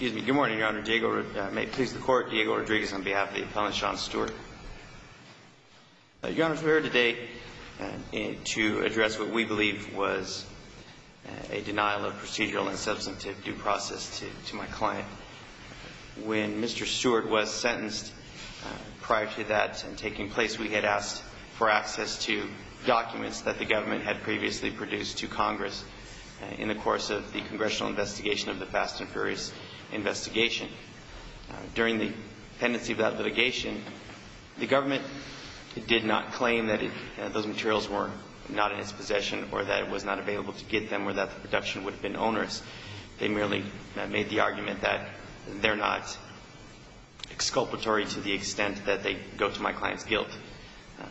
Good morning, Your Honor. May it please the Court, Diego Rodriguez on behalf of the appellant, Sean Stewart. Your Honor, we're here today to address what we believe was a denial of procedural and substantive due process to my client. When Mr. Stewart was sentenced, prior to that taking place, we had asked for access to documents that the government had previously produced to Congress in the course of the investigation. During the pendency of that litigation, the government did not claim that those materials were not in its possession or that it was not available to get them or that the production would have been onerous. They merely made the argument that they're not exculpatory to the extent that they go to my client's guilt.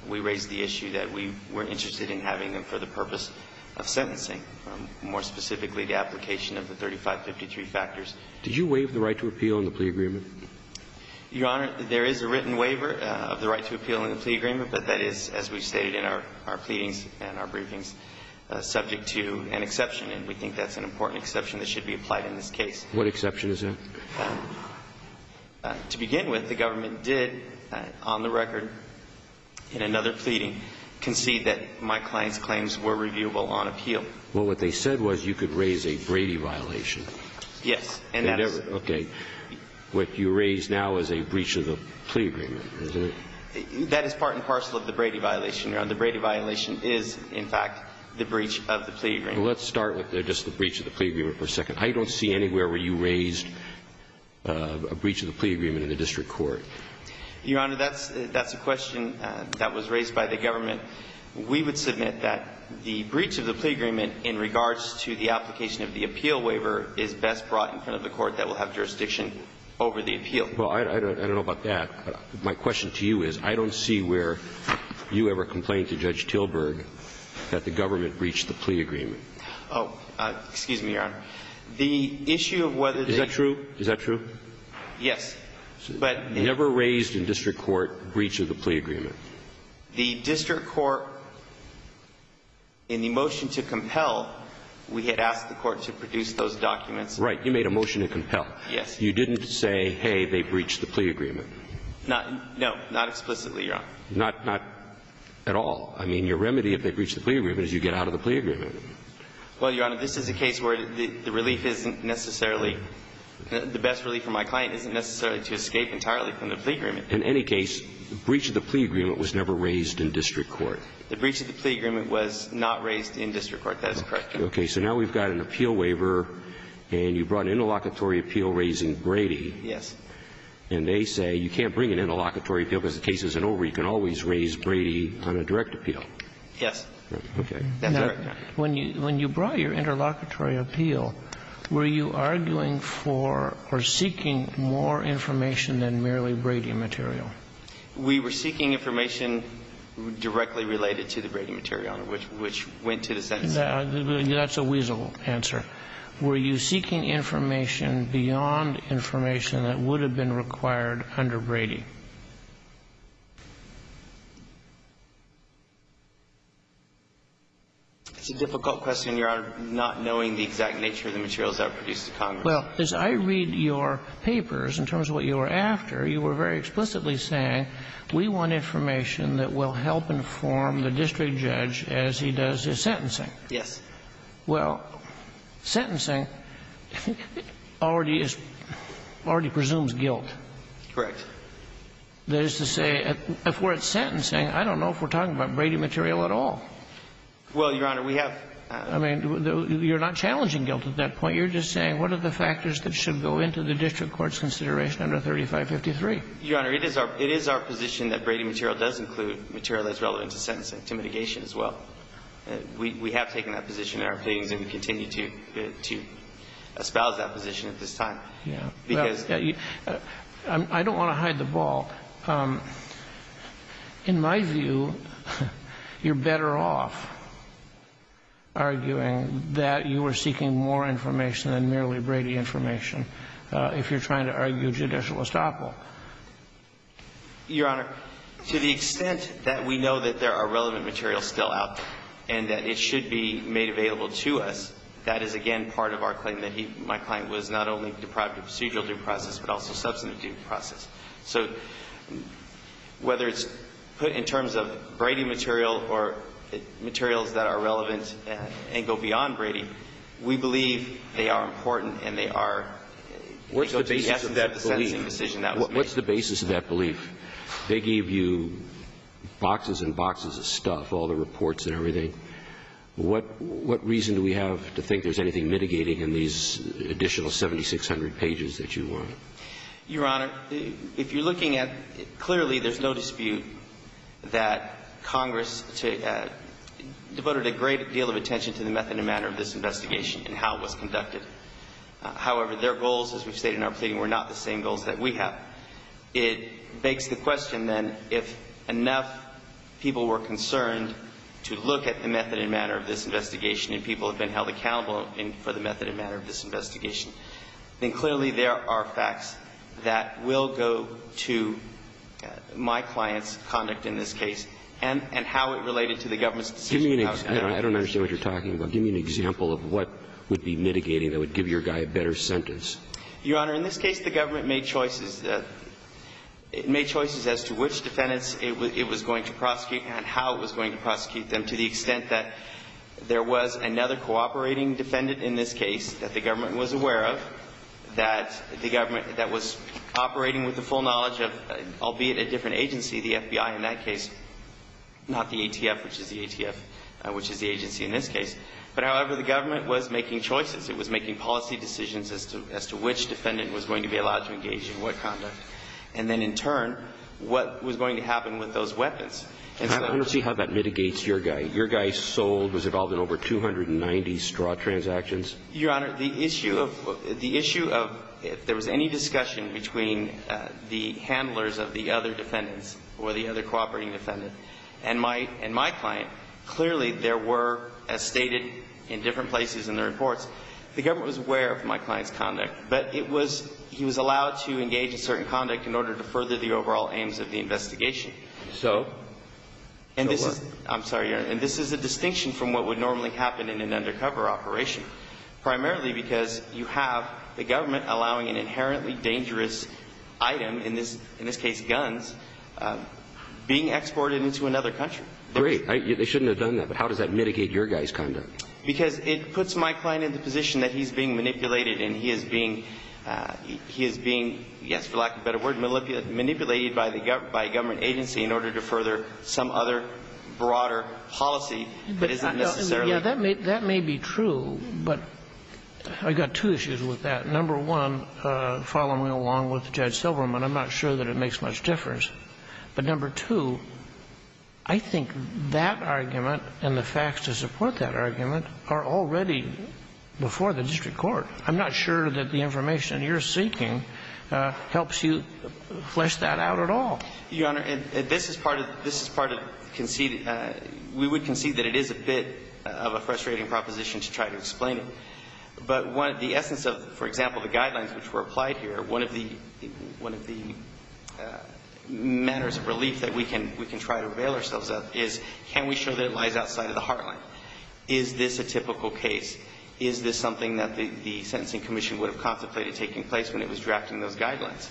We raised the issue that we were interested in having them for the purpose of sentencing, more specifically the application of the Did you waive the right to appeal in the plea agreement? Your Honor, there is a written waiver of the right to appeal in the plea agreement, but that is, as we've stated in our pleadings and our briefings, subject to an exception, and we think that's an important exception that should be applied in this case. What exception is that? To begin with, the government did, on the record, in another pleading, concede that my client's claims were reviewable on appeal. Well, what they said was you could raise a Brady violation. Yes. Okay. What you raise now is a breach of the plea agreement, isn't it? That is part and parcel of the Brady violation, Your Honor. The Brady violation is, in fact, the breach of the plea agreement. Well, let's start with just the breach of the plea agreement for a second. I don't see anywhere where you raised a breach of the plea agreement in the district court. Your Honor, that's a question that was raised by the government. We would submit that the breach of the plea agreement in regards to the application of the appeal waiver is best brought in front of the court that will have jurisdiction over the appeal. Well, I don't know about that. My question to you is, I don't see where you ever complained to Judge Tilburg that the government breached the plea agreement. Oh, excuse me, Your Honor. The issue of whether the Is that true? Is that true? Yes, but Never raised in district court a breach of the plea agreement. The district court, in the motion to compel, we had asked the court to produce those documents. Right. You made a motion to compel. Yes. You didn't say, hey, they breached the plea agreement. No. Not explicitly, Your Honor. Not at all. I mean, your remedy of the breach of the plea agreement is you get out of the plea agreement. Well, Your Honor, this is a case where the relief isn't necessarily the best relief for my client isn't necessarily to escape entirely from the plea agreement. In any case, breach of the plea agreement was never raised in district court. The breach of the plea agreement was not raised in district court. That is correct, Your Honor. Okay. So now we've got an appeal waiver, and you brought an interlocutory appeal raising Brady. Yes. And they say you can't bring an interlocutory appeal because the case isn't over. You can always raise Brady on a direct appeal. Yes. Okay. Now, when you brought your interlocutory appeal, were you arguing for or seeking more information than merely Brady material? We were seeking information directly related to the Brady material, Your Honor, which went to the sentencing. That's a weasel answer. Were you seeking information beyond information that would have been required under Brady? It's a difficult question, Your Honor, not knowing the exact nature of the materials I produced to Congress. Well, as I read your papers in terms of what you were after, you were very explicitly saying, we want information that will help inform the district judge as he does his sentencing. Yes. Well, sentencing already is – already presumes guilt. Correct. That is to say, if we're at sentencing, I don't know if we're talking about Brady material at all. Well, Your Honor, we have – I mean, you're not challenging guilt at that point. You're just saying, what are the factors that should go into the district court's consideration under 3553? Your Honor, it is our – it is our position that Brady material does include material that's relevant to sentencing, to mitigation as well. We have taken that position in our payings, and we continue to espouse that position at this time. Yeah. Because – I don't want to hide the ball. In my view, you're better off arguing that you were seeking more information than merely Brady information if you're trying to argue judicial estoppel. Your Honor, to the extent that we know that there are relevant materials still out there and that it should be made available to us, that is, again, part of our claim that he – my client was not only deprived of procedural due process, but also substantive due process. So whether it's put in terms of Brady material or materials that are relevant and go beyond Brady, we believe they are important and they are – What's the basis of that belief? What's the basis of that belief? They gave you boxes and boxes of stuff, all the reports and everything. What reason do we have to think there's anything mitigating in these additional 7600 pages that you want? Your Honor, if you're looking at – clearly, there's no dispute that Congress devoted a great deal of attention to the method and manner of this investigation and how it was conducted. However, their goals, as we've stated in our pleading, were not the same goals that we have. It begs the question, then, if enough people were concerned to look at the method and manner of this investigation and people have been held accountable for the method and manner of this investigation, then clearly there are facts that will go to my client's conduct in this case and how it related to the government's decision to have it. Give me an – I don't understand what you're talking about. Give me an example of what would be mitigating that would give your guy a better sentence. Your Honor, in this case, the government made choices. It made choices as to which defendants it was going to prosecute and how it was going to prosecute them to the extent that there was another cooperating defendant in this case that the government was aware of, that the government that was operating with the full knowledge of, albeit a different agency, the FBI in that case, not the ATF, which is the ATF, which is the agency in this case. But, however, the government was making choices. It was making policy decisions as to which defendant was going to be allowed to engage in what conduct. And then, in turn, what was going to happen with those weapons. And so – I want to see how that mitigates your guy. Your Honor, the issue of – the issue of if there was any discussion between the handlers of the other defendants or the other cooperating defendant and my – and my client, clearly there were, as stated in different places in the reports, the government was aware of my client's conduct. But it was – he was allowed to engage in certain conduct in order to further the overall aims of the investigation. So? And this is – Go on. I'm sorry, Your Honor. And this is a distinction from what would normally happen in an undercover operation. Primarily because you have the government allowing an inherently dangerous item, in this case, guns, being exported into another country. Great. They shouldn't have done that. But how does that mitigate your guy's conduct? Because it puts my client in the position that he's being manipulated and he is being – he is being, yes, for lack of a better word, manipulated by a government agency in order to further some other broader policy that isn't necessarily – Yeah. That may be true. But I've got two issues with that. Number one, following along with Judge Silverman, I'm not sure that it makes much difference. But number two, I think that argument and the facts to support that argument are already before the district court. I'm not sure that the information you're seeking helps you flesh that out at all. Your Honor, this is part of – we would concede that it is a bit of a frustrating proposition to try to explain it. But the essence of, for example, the guidelines which were applied here, one of the manners of relief that we can try to avail ourselves of is can we show that it lies outside of the heartland? Is this a typical case? Is this something that the Sentencing Commission would have contemplated taking place when it was drafting those guidelines?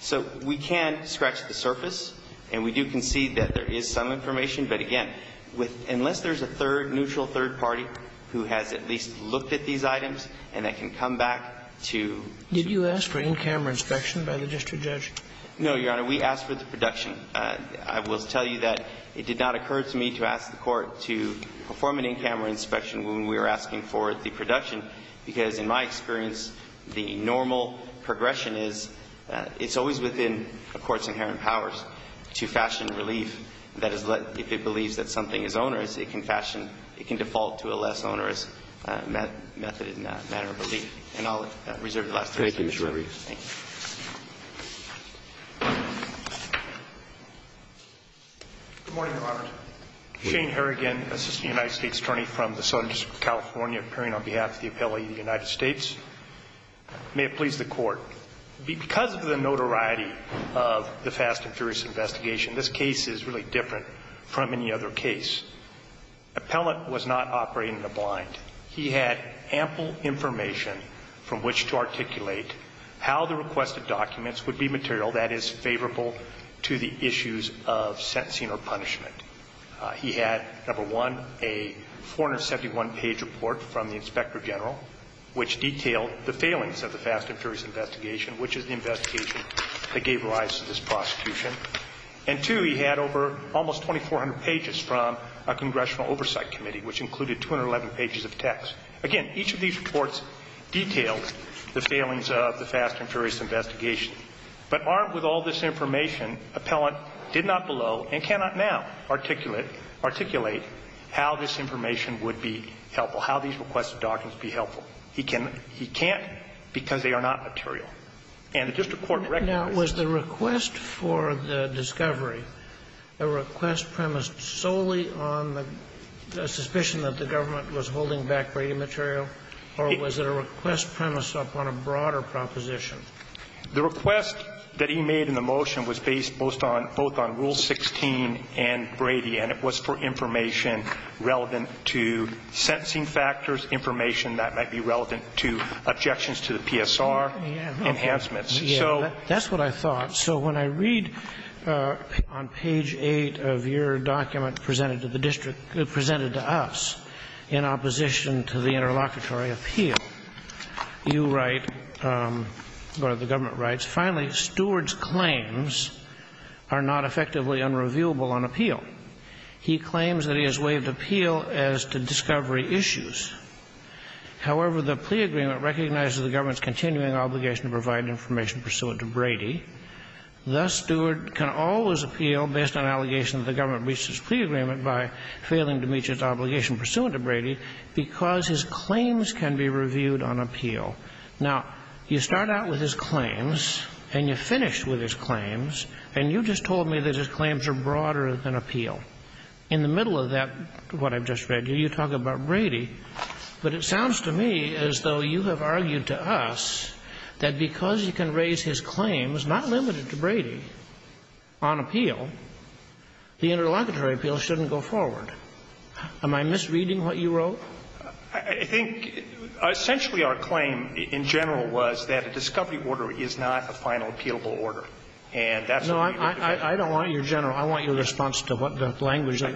So we can scratch the surface, and we do concede that there is some information. But again, with – unless there's a third – neutral third party who has at least looked at these items and that can come back to – Did you ask for in-camera inspection by the district judge? No, Your Honor. We asked for the production. I will tell you that it did not occur to me to ask the court to perform an in-camera inspection when we were asking for the production, because in my experience, the normal progression is it's always within a court's inherent powers to fashion relief that is let – if it believes that something is onerous, it can fashion – it can default to a less onerous method in that matter of relief. And I'll reserve the last question. Thank you, Mr. Rubin. Thank you. Good morning, Your Honor. Shane Harrigan, assistant United States attorney from the Southern District of California, appearing on behalf of the appellee of the United States. May it please the Court. Because of the notoriety of the Fast and Furious investigation, this case is really different from any other case. Appellant was not operating in the blind. He had ample information from which to articulate how the requested documents would be material that is favorable to the issues of sentencing or punishment. He had, number one, a 471-page report from the inspector general which detailed the failings of the Fast and Furious investigation, which is the investigation that gave rise to this prosecution. And, two, he had over – almost 2,400 pages from a congressional oversight committee, which included 211 pages of text. Again, each of these reports detailed the failings of the Fast and Furious investigation. But armed with all this information, appellant did not below and cannot now articulate how this information would be helpful, how these requested documents would be helpful. He can't because they are not material. And the district court recognized this. Now, was the request for the discovery a request premised solely on the suspicion that the government was holding back Brady material, or was it a request premised upon a broader proposition? The request that he made in the motion was based most on – both on Rule 16 and Brady, and it was for information relevant to sentencing factors, information that might be relevant to objections to the PSR enhancements. So – That's what I thought. So when I read on page 8 of your document presented to the district – presented to us in opposition to the interlocutory appeal, you write – or the government writes – finally, Stewart's claims are not effectively unreviewable on appeal. He claims that he has waived appeal as to discovery issues. However, the plea agreement recognizes the government's continuing obligation to provide information pursuant to Brady. Thus, Stewart can always appeal based on allegations that the government breached his plea agreement by failing to meet his obligation pursuant to Brady because his claims can be reviewed on appeal. Now, you start out with his claims, and you finish with his claims, and you just told me that his claims are broader than appeal. In the middle of that, what I've just read, you talk about Brady. But it sounds to me as though you have argued to us that because you can raise his claims, not limited to Brady, on appeal, the interlocutory appeal shouldn't go forward. Am I misreading what you wrote? I think essentially our claim in general was that a discovery order is not a final appealable order. And that's what we were trying to say. No, I don't want your general. I want your response to what the language that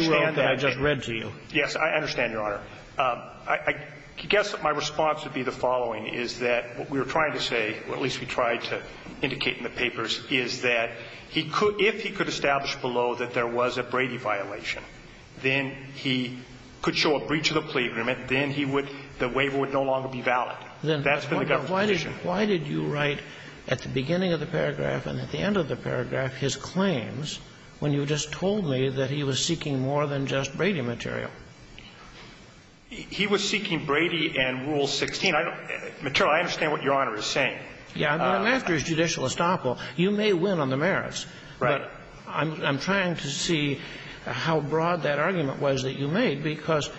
you wrote that I just read to you. Yes, I understand, Your Honor. I guess my response would be the following, is that what we were trying to say, or at least we tried to indicate in the papers, is that he could – if he could establish below that there was a Brady violation, then he could show a breach of the plea agreement, then he would – the waiver would no longer be valid. That's been the government's position. Then why did you write at the beginning of the paragraph and at the end of the paragraph his claims when you just told me that he was seeking more than just Brady material? He was seeking Brady and Rule 16. I don't – material, I understand what Your Honor is saying. Yeah, I mean, after his judicial estoppel, you may win on the merits. Right. But I'm trying to see how broad that argument was that you made, because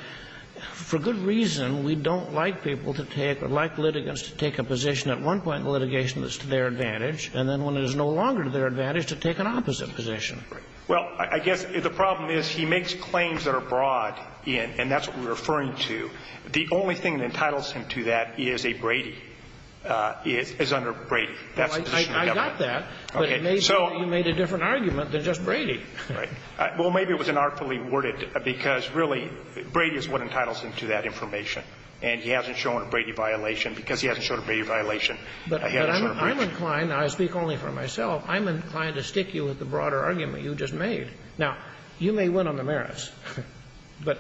for good reason, we don't like people to take – or like litigants to take a position at one point in litigation that's to their advantage, and then when it is no longer to their advantage, to take an opposite position. Right. Well, I guess the problem is he makes claims that are broad, and that's what we're referring to. The only thing that entitles him to that is a Brady – is under Brady. That's the position of the government. I got that. But it may be that you made a different argument than just Brady. Right. Well, maybe it was inartfully worded, because really, Brady is what entitles him to that information. And he hasn't shown a Brady violation because he hasn't shown a Brady violation. He hasn't shown a breach. But I'm inclined – and I speak only for myself – I'm inclined to stick you with the broader argument you just made. Now, you may win on the merits, but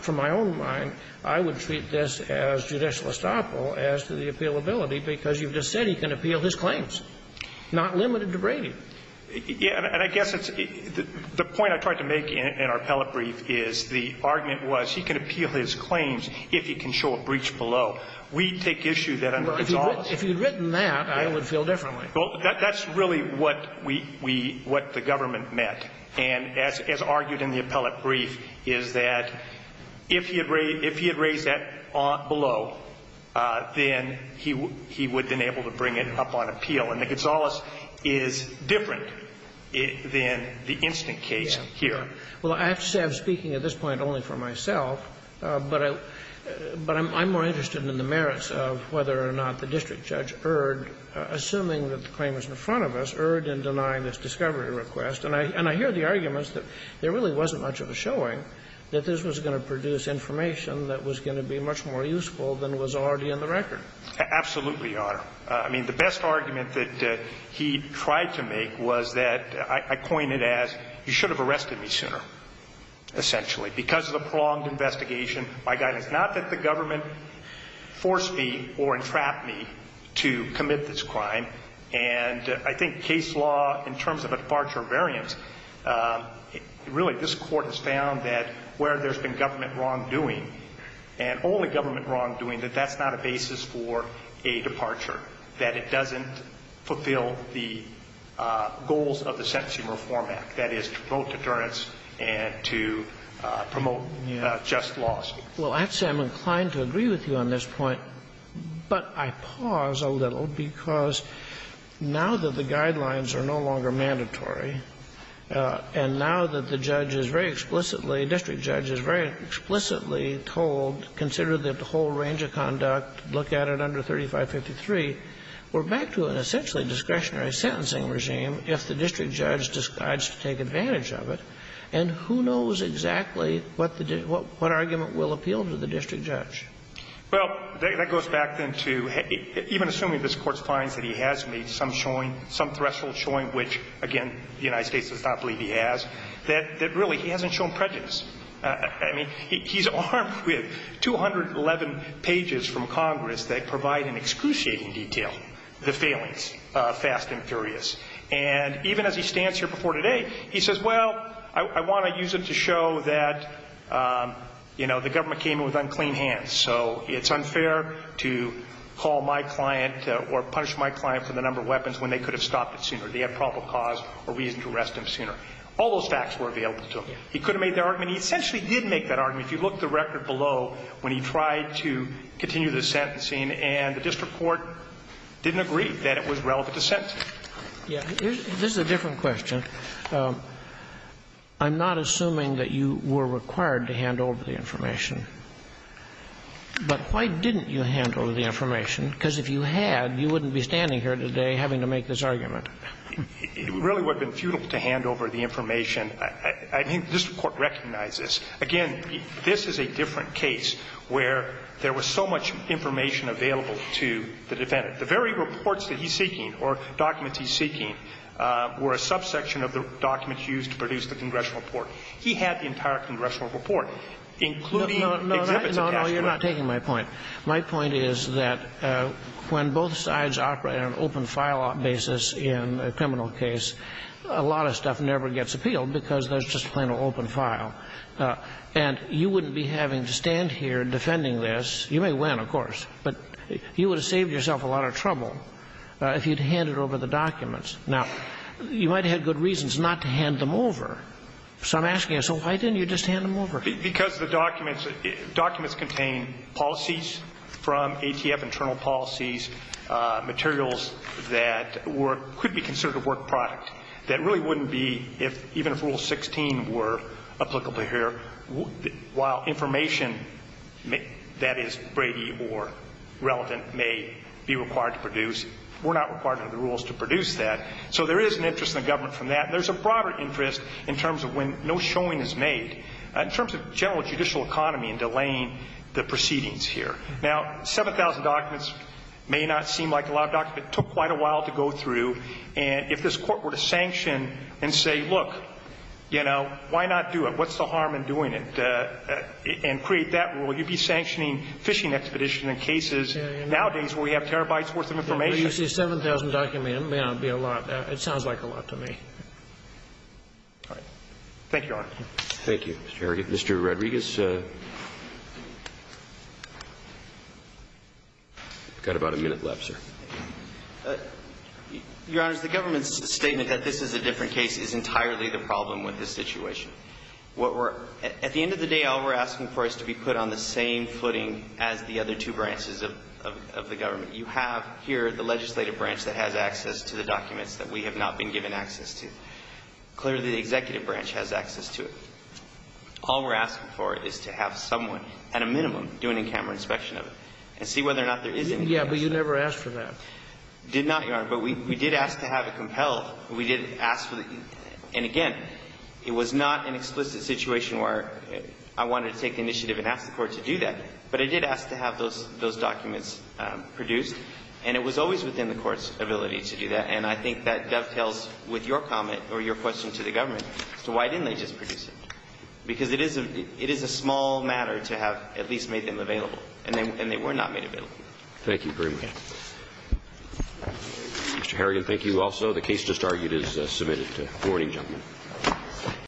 from my own mind, I would treat this as judicial appealability, because you've just said he can appeal his claims, not limited to Brady. Yeah. And I guess it's – the point I tried to make in our appellate brief is the argument was he can appeal his claims if he can show a breach below. We take issue that under his office – Well, if you had written that, I would feel differently. Well, that's really what we – what the government meant, and as argued in the appellate brief, is that if he had raised – if he had raised that below, then he would have been able to bring it up on appeal. And the Gonzales is different than the instant case here. Yeah. Well, I have to say, I'm speaking at this point only for myself, but I'm more interested in the merits of whether or not the district judge erred, assuming that the claim is in front of us, erred in denying this discovery request. And I hear the arguments that there really wasn't much of a showing, that this was going to produce information that was going to be much more useful than was already in the record. Absolutely, Your Honor. I mean, the best argument that he tried to make was that – I coined it as, you should have arrested me sooner, essentially, because of the prolonged investigation by guidance. Not that the government forced me or entrapped me to commit this crime. And I think case law, in terms of a departure of variance, really this Court has found that where there's been government wrongdoing, and only government wrongdoing, that that's not a basis for a departure, that it doesn't fulfill the goals of the Sentencing Reform Act, that is, to promote deterrence and to promote just laws. Well, I'd say I'm inclined to agree with you on this point, but I pause a little, because now that the guidelines are no longer mandatory, and now that the judge is very explicitly – district judge is very explicitly told, consider the whole range of conduct, look at it under 3553, we're back to an essentially discretionary sentencing regime if the district judge decides to take advantage of it. And who knows exactly what the – what argument will appeal to the district judge? Well, that goes back then to – even assuming this Court finds that he has made some showing, some threshold showing, which, again, the United States does not believe he has, that really he hasn't shown prejudice. I mean, he's armed with 211 pages from Congress that provide an excruciating detail, the failings, fast and furious. And even as he stands here before today, he says, well, I want to use it to show that, you know, the government came in with unclean hands, so it's unfair to call my client or punish my client for the number of weapons when they could have stopped it sooner. They have probable cause or reason to arrest him sooner. All those facts were available to him. He could have made that argument. He essentially did make that argument. If you look at the record below, when he tried to continue the sentencing, and the district court didn't agree that it was relevant to sentencing. Yeah. This is a different question. I'm not assuming that you were required to hand over the information. But why didn't you hand over the information? Because if you had, you wouldn't be standing here today having to make this argument. It really would have been futile to hand over the information. I think the district court recognized this. Again, this is a different case where there was so much information available to the defendant. The very reports that he's seeking or documents he's seeking were a subsection of the documents used to produce the congressional report. He had the entire congressional report, including exhibits of cash collection. No, no, you're not taking my point. My point is that when both sides operate on an open file basis in a criminal case, a lot of stuff never gets appealed because there's just plain old open file. And you wouldn't be having to stand here defending this. You may win, of course. But you would have saved yourself a lot of trouble if you'd handed over the documents. Now, you might have had good reasons not to hand them over. So I'm asking you, so why didn't you just hand them over? Because the documents, documents contain policies from ATF, internal policies, materials that were, could be considered a work product that really wouldn't be, even if Rule 16 were applicable here, while information that is Brady or relevant may be required to produce, were not required under the rules to produce that. So there is an interest in the government from that. And there's a broader interest in terms of when no showing is made, in terms of general judicial economy and delaying the proceedings here. Now, 7,000 documents may not seem like a lot of documents, but it took quite a while to go through. And if this Court were to sanction and say, look, you know, why not do it, what's the harm in doing it, and create that rule, you'd be sanctioning fishing expedition and cases. Nowadays, we have terabytes worth of information. But you say 7,000 documents may not be a lot. It sounds like a lot to me. All right. Thank you, Your Honor. Thank you, Mr. Herrigan. Mr. Rodriguez? I've got about a minute left, sir. Your Honor, the government's statement that this is a different case is entirely the problem with this situation. At the end of the day, all we're asking for is to be put on the same footing as the other two branches of the government. You have here the legislative branch that has access to the documents that we have not been given access to. Clearly, the executive branch has access to it. All we're asking for is to have someone, at a minimum, do an in-camera inspection of it and see whether or not there is any difference. Yeah, but you never asked for that. Did not, Your Honor. But we did ask to have it compelled. We did ask for it. And again, it was not an explicit situation where I wanted to take initiative and ask the Court to do that. But I did ask to have those documents produced. And it was always within the Court's ability to do that. And I think that dovetails with your comment or your question to the government as to why didn't they just produce it. Because it is a small matter to have at least made them available. And they were not made available. Thank you very much. Mr. Harrigan, thank you also. The case just argued is submitted. Good morning, gentlemen.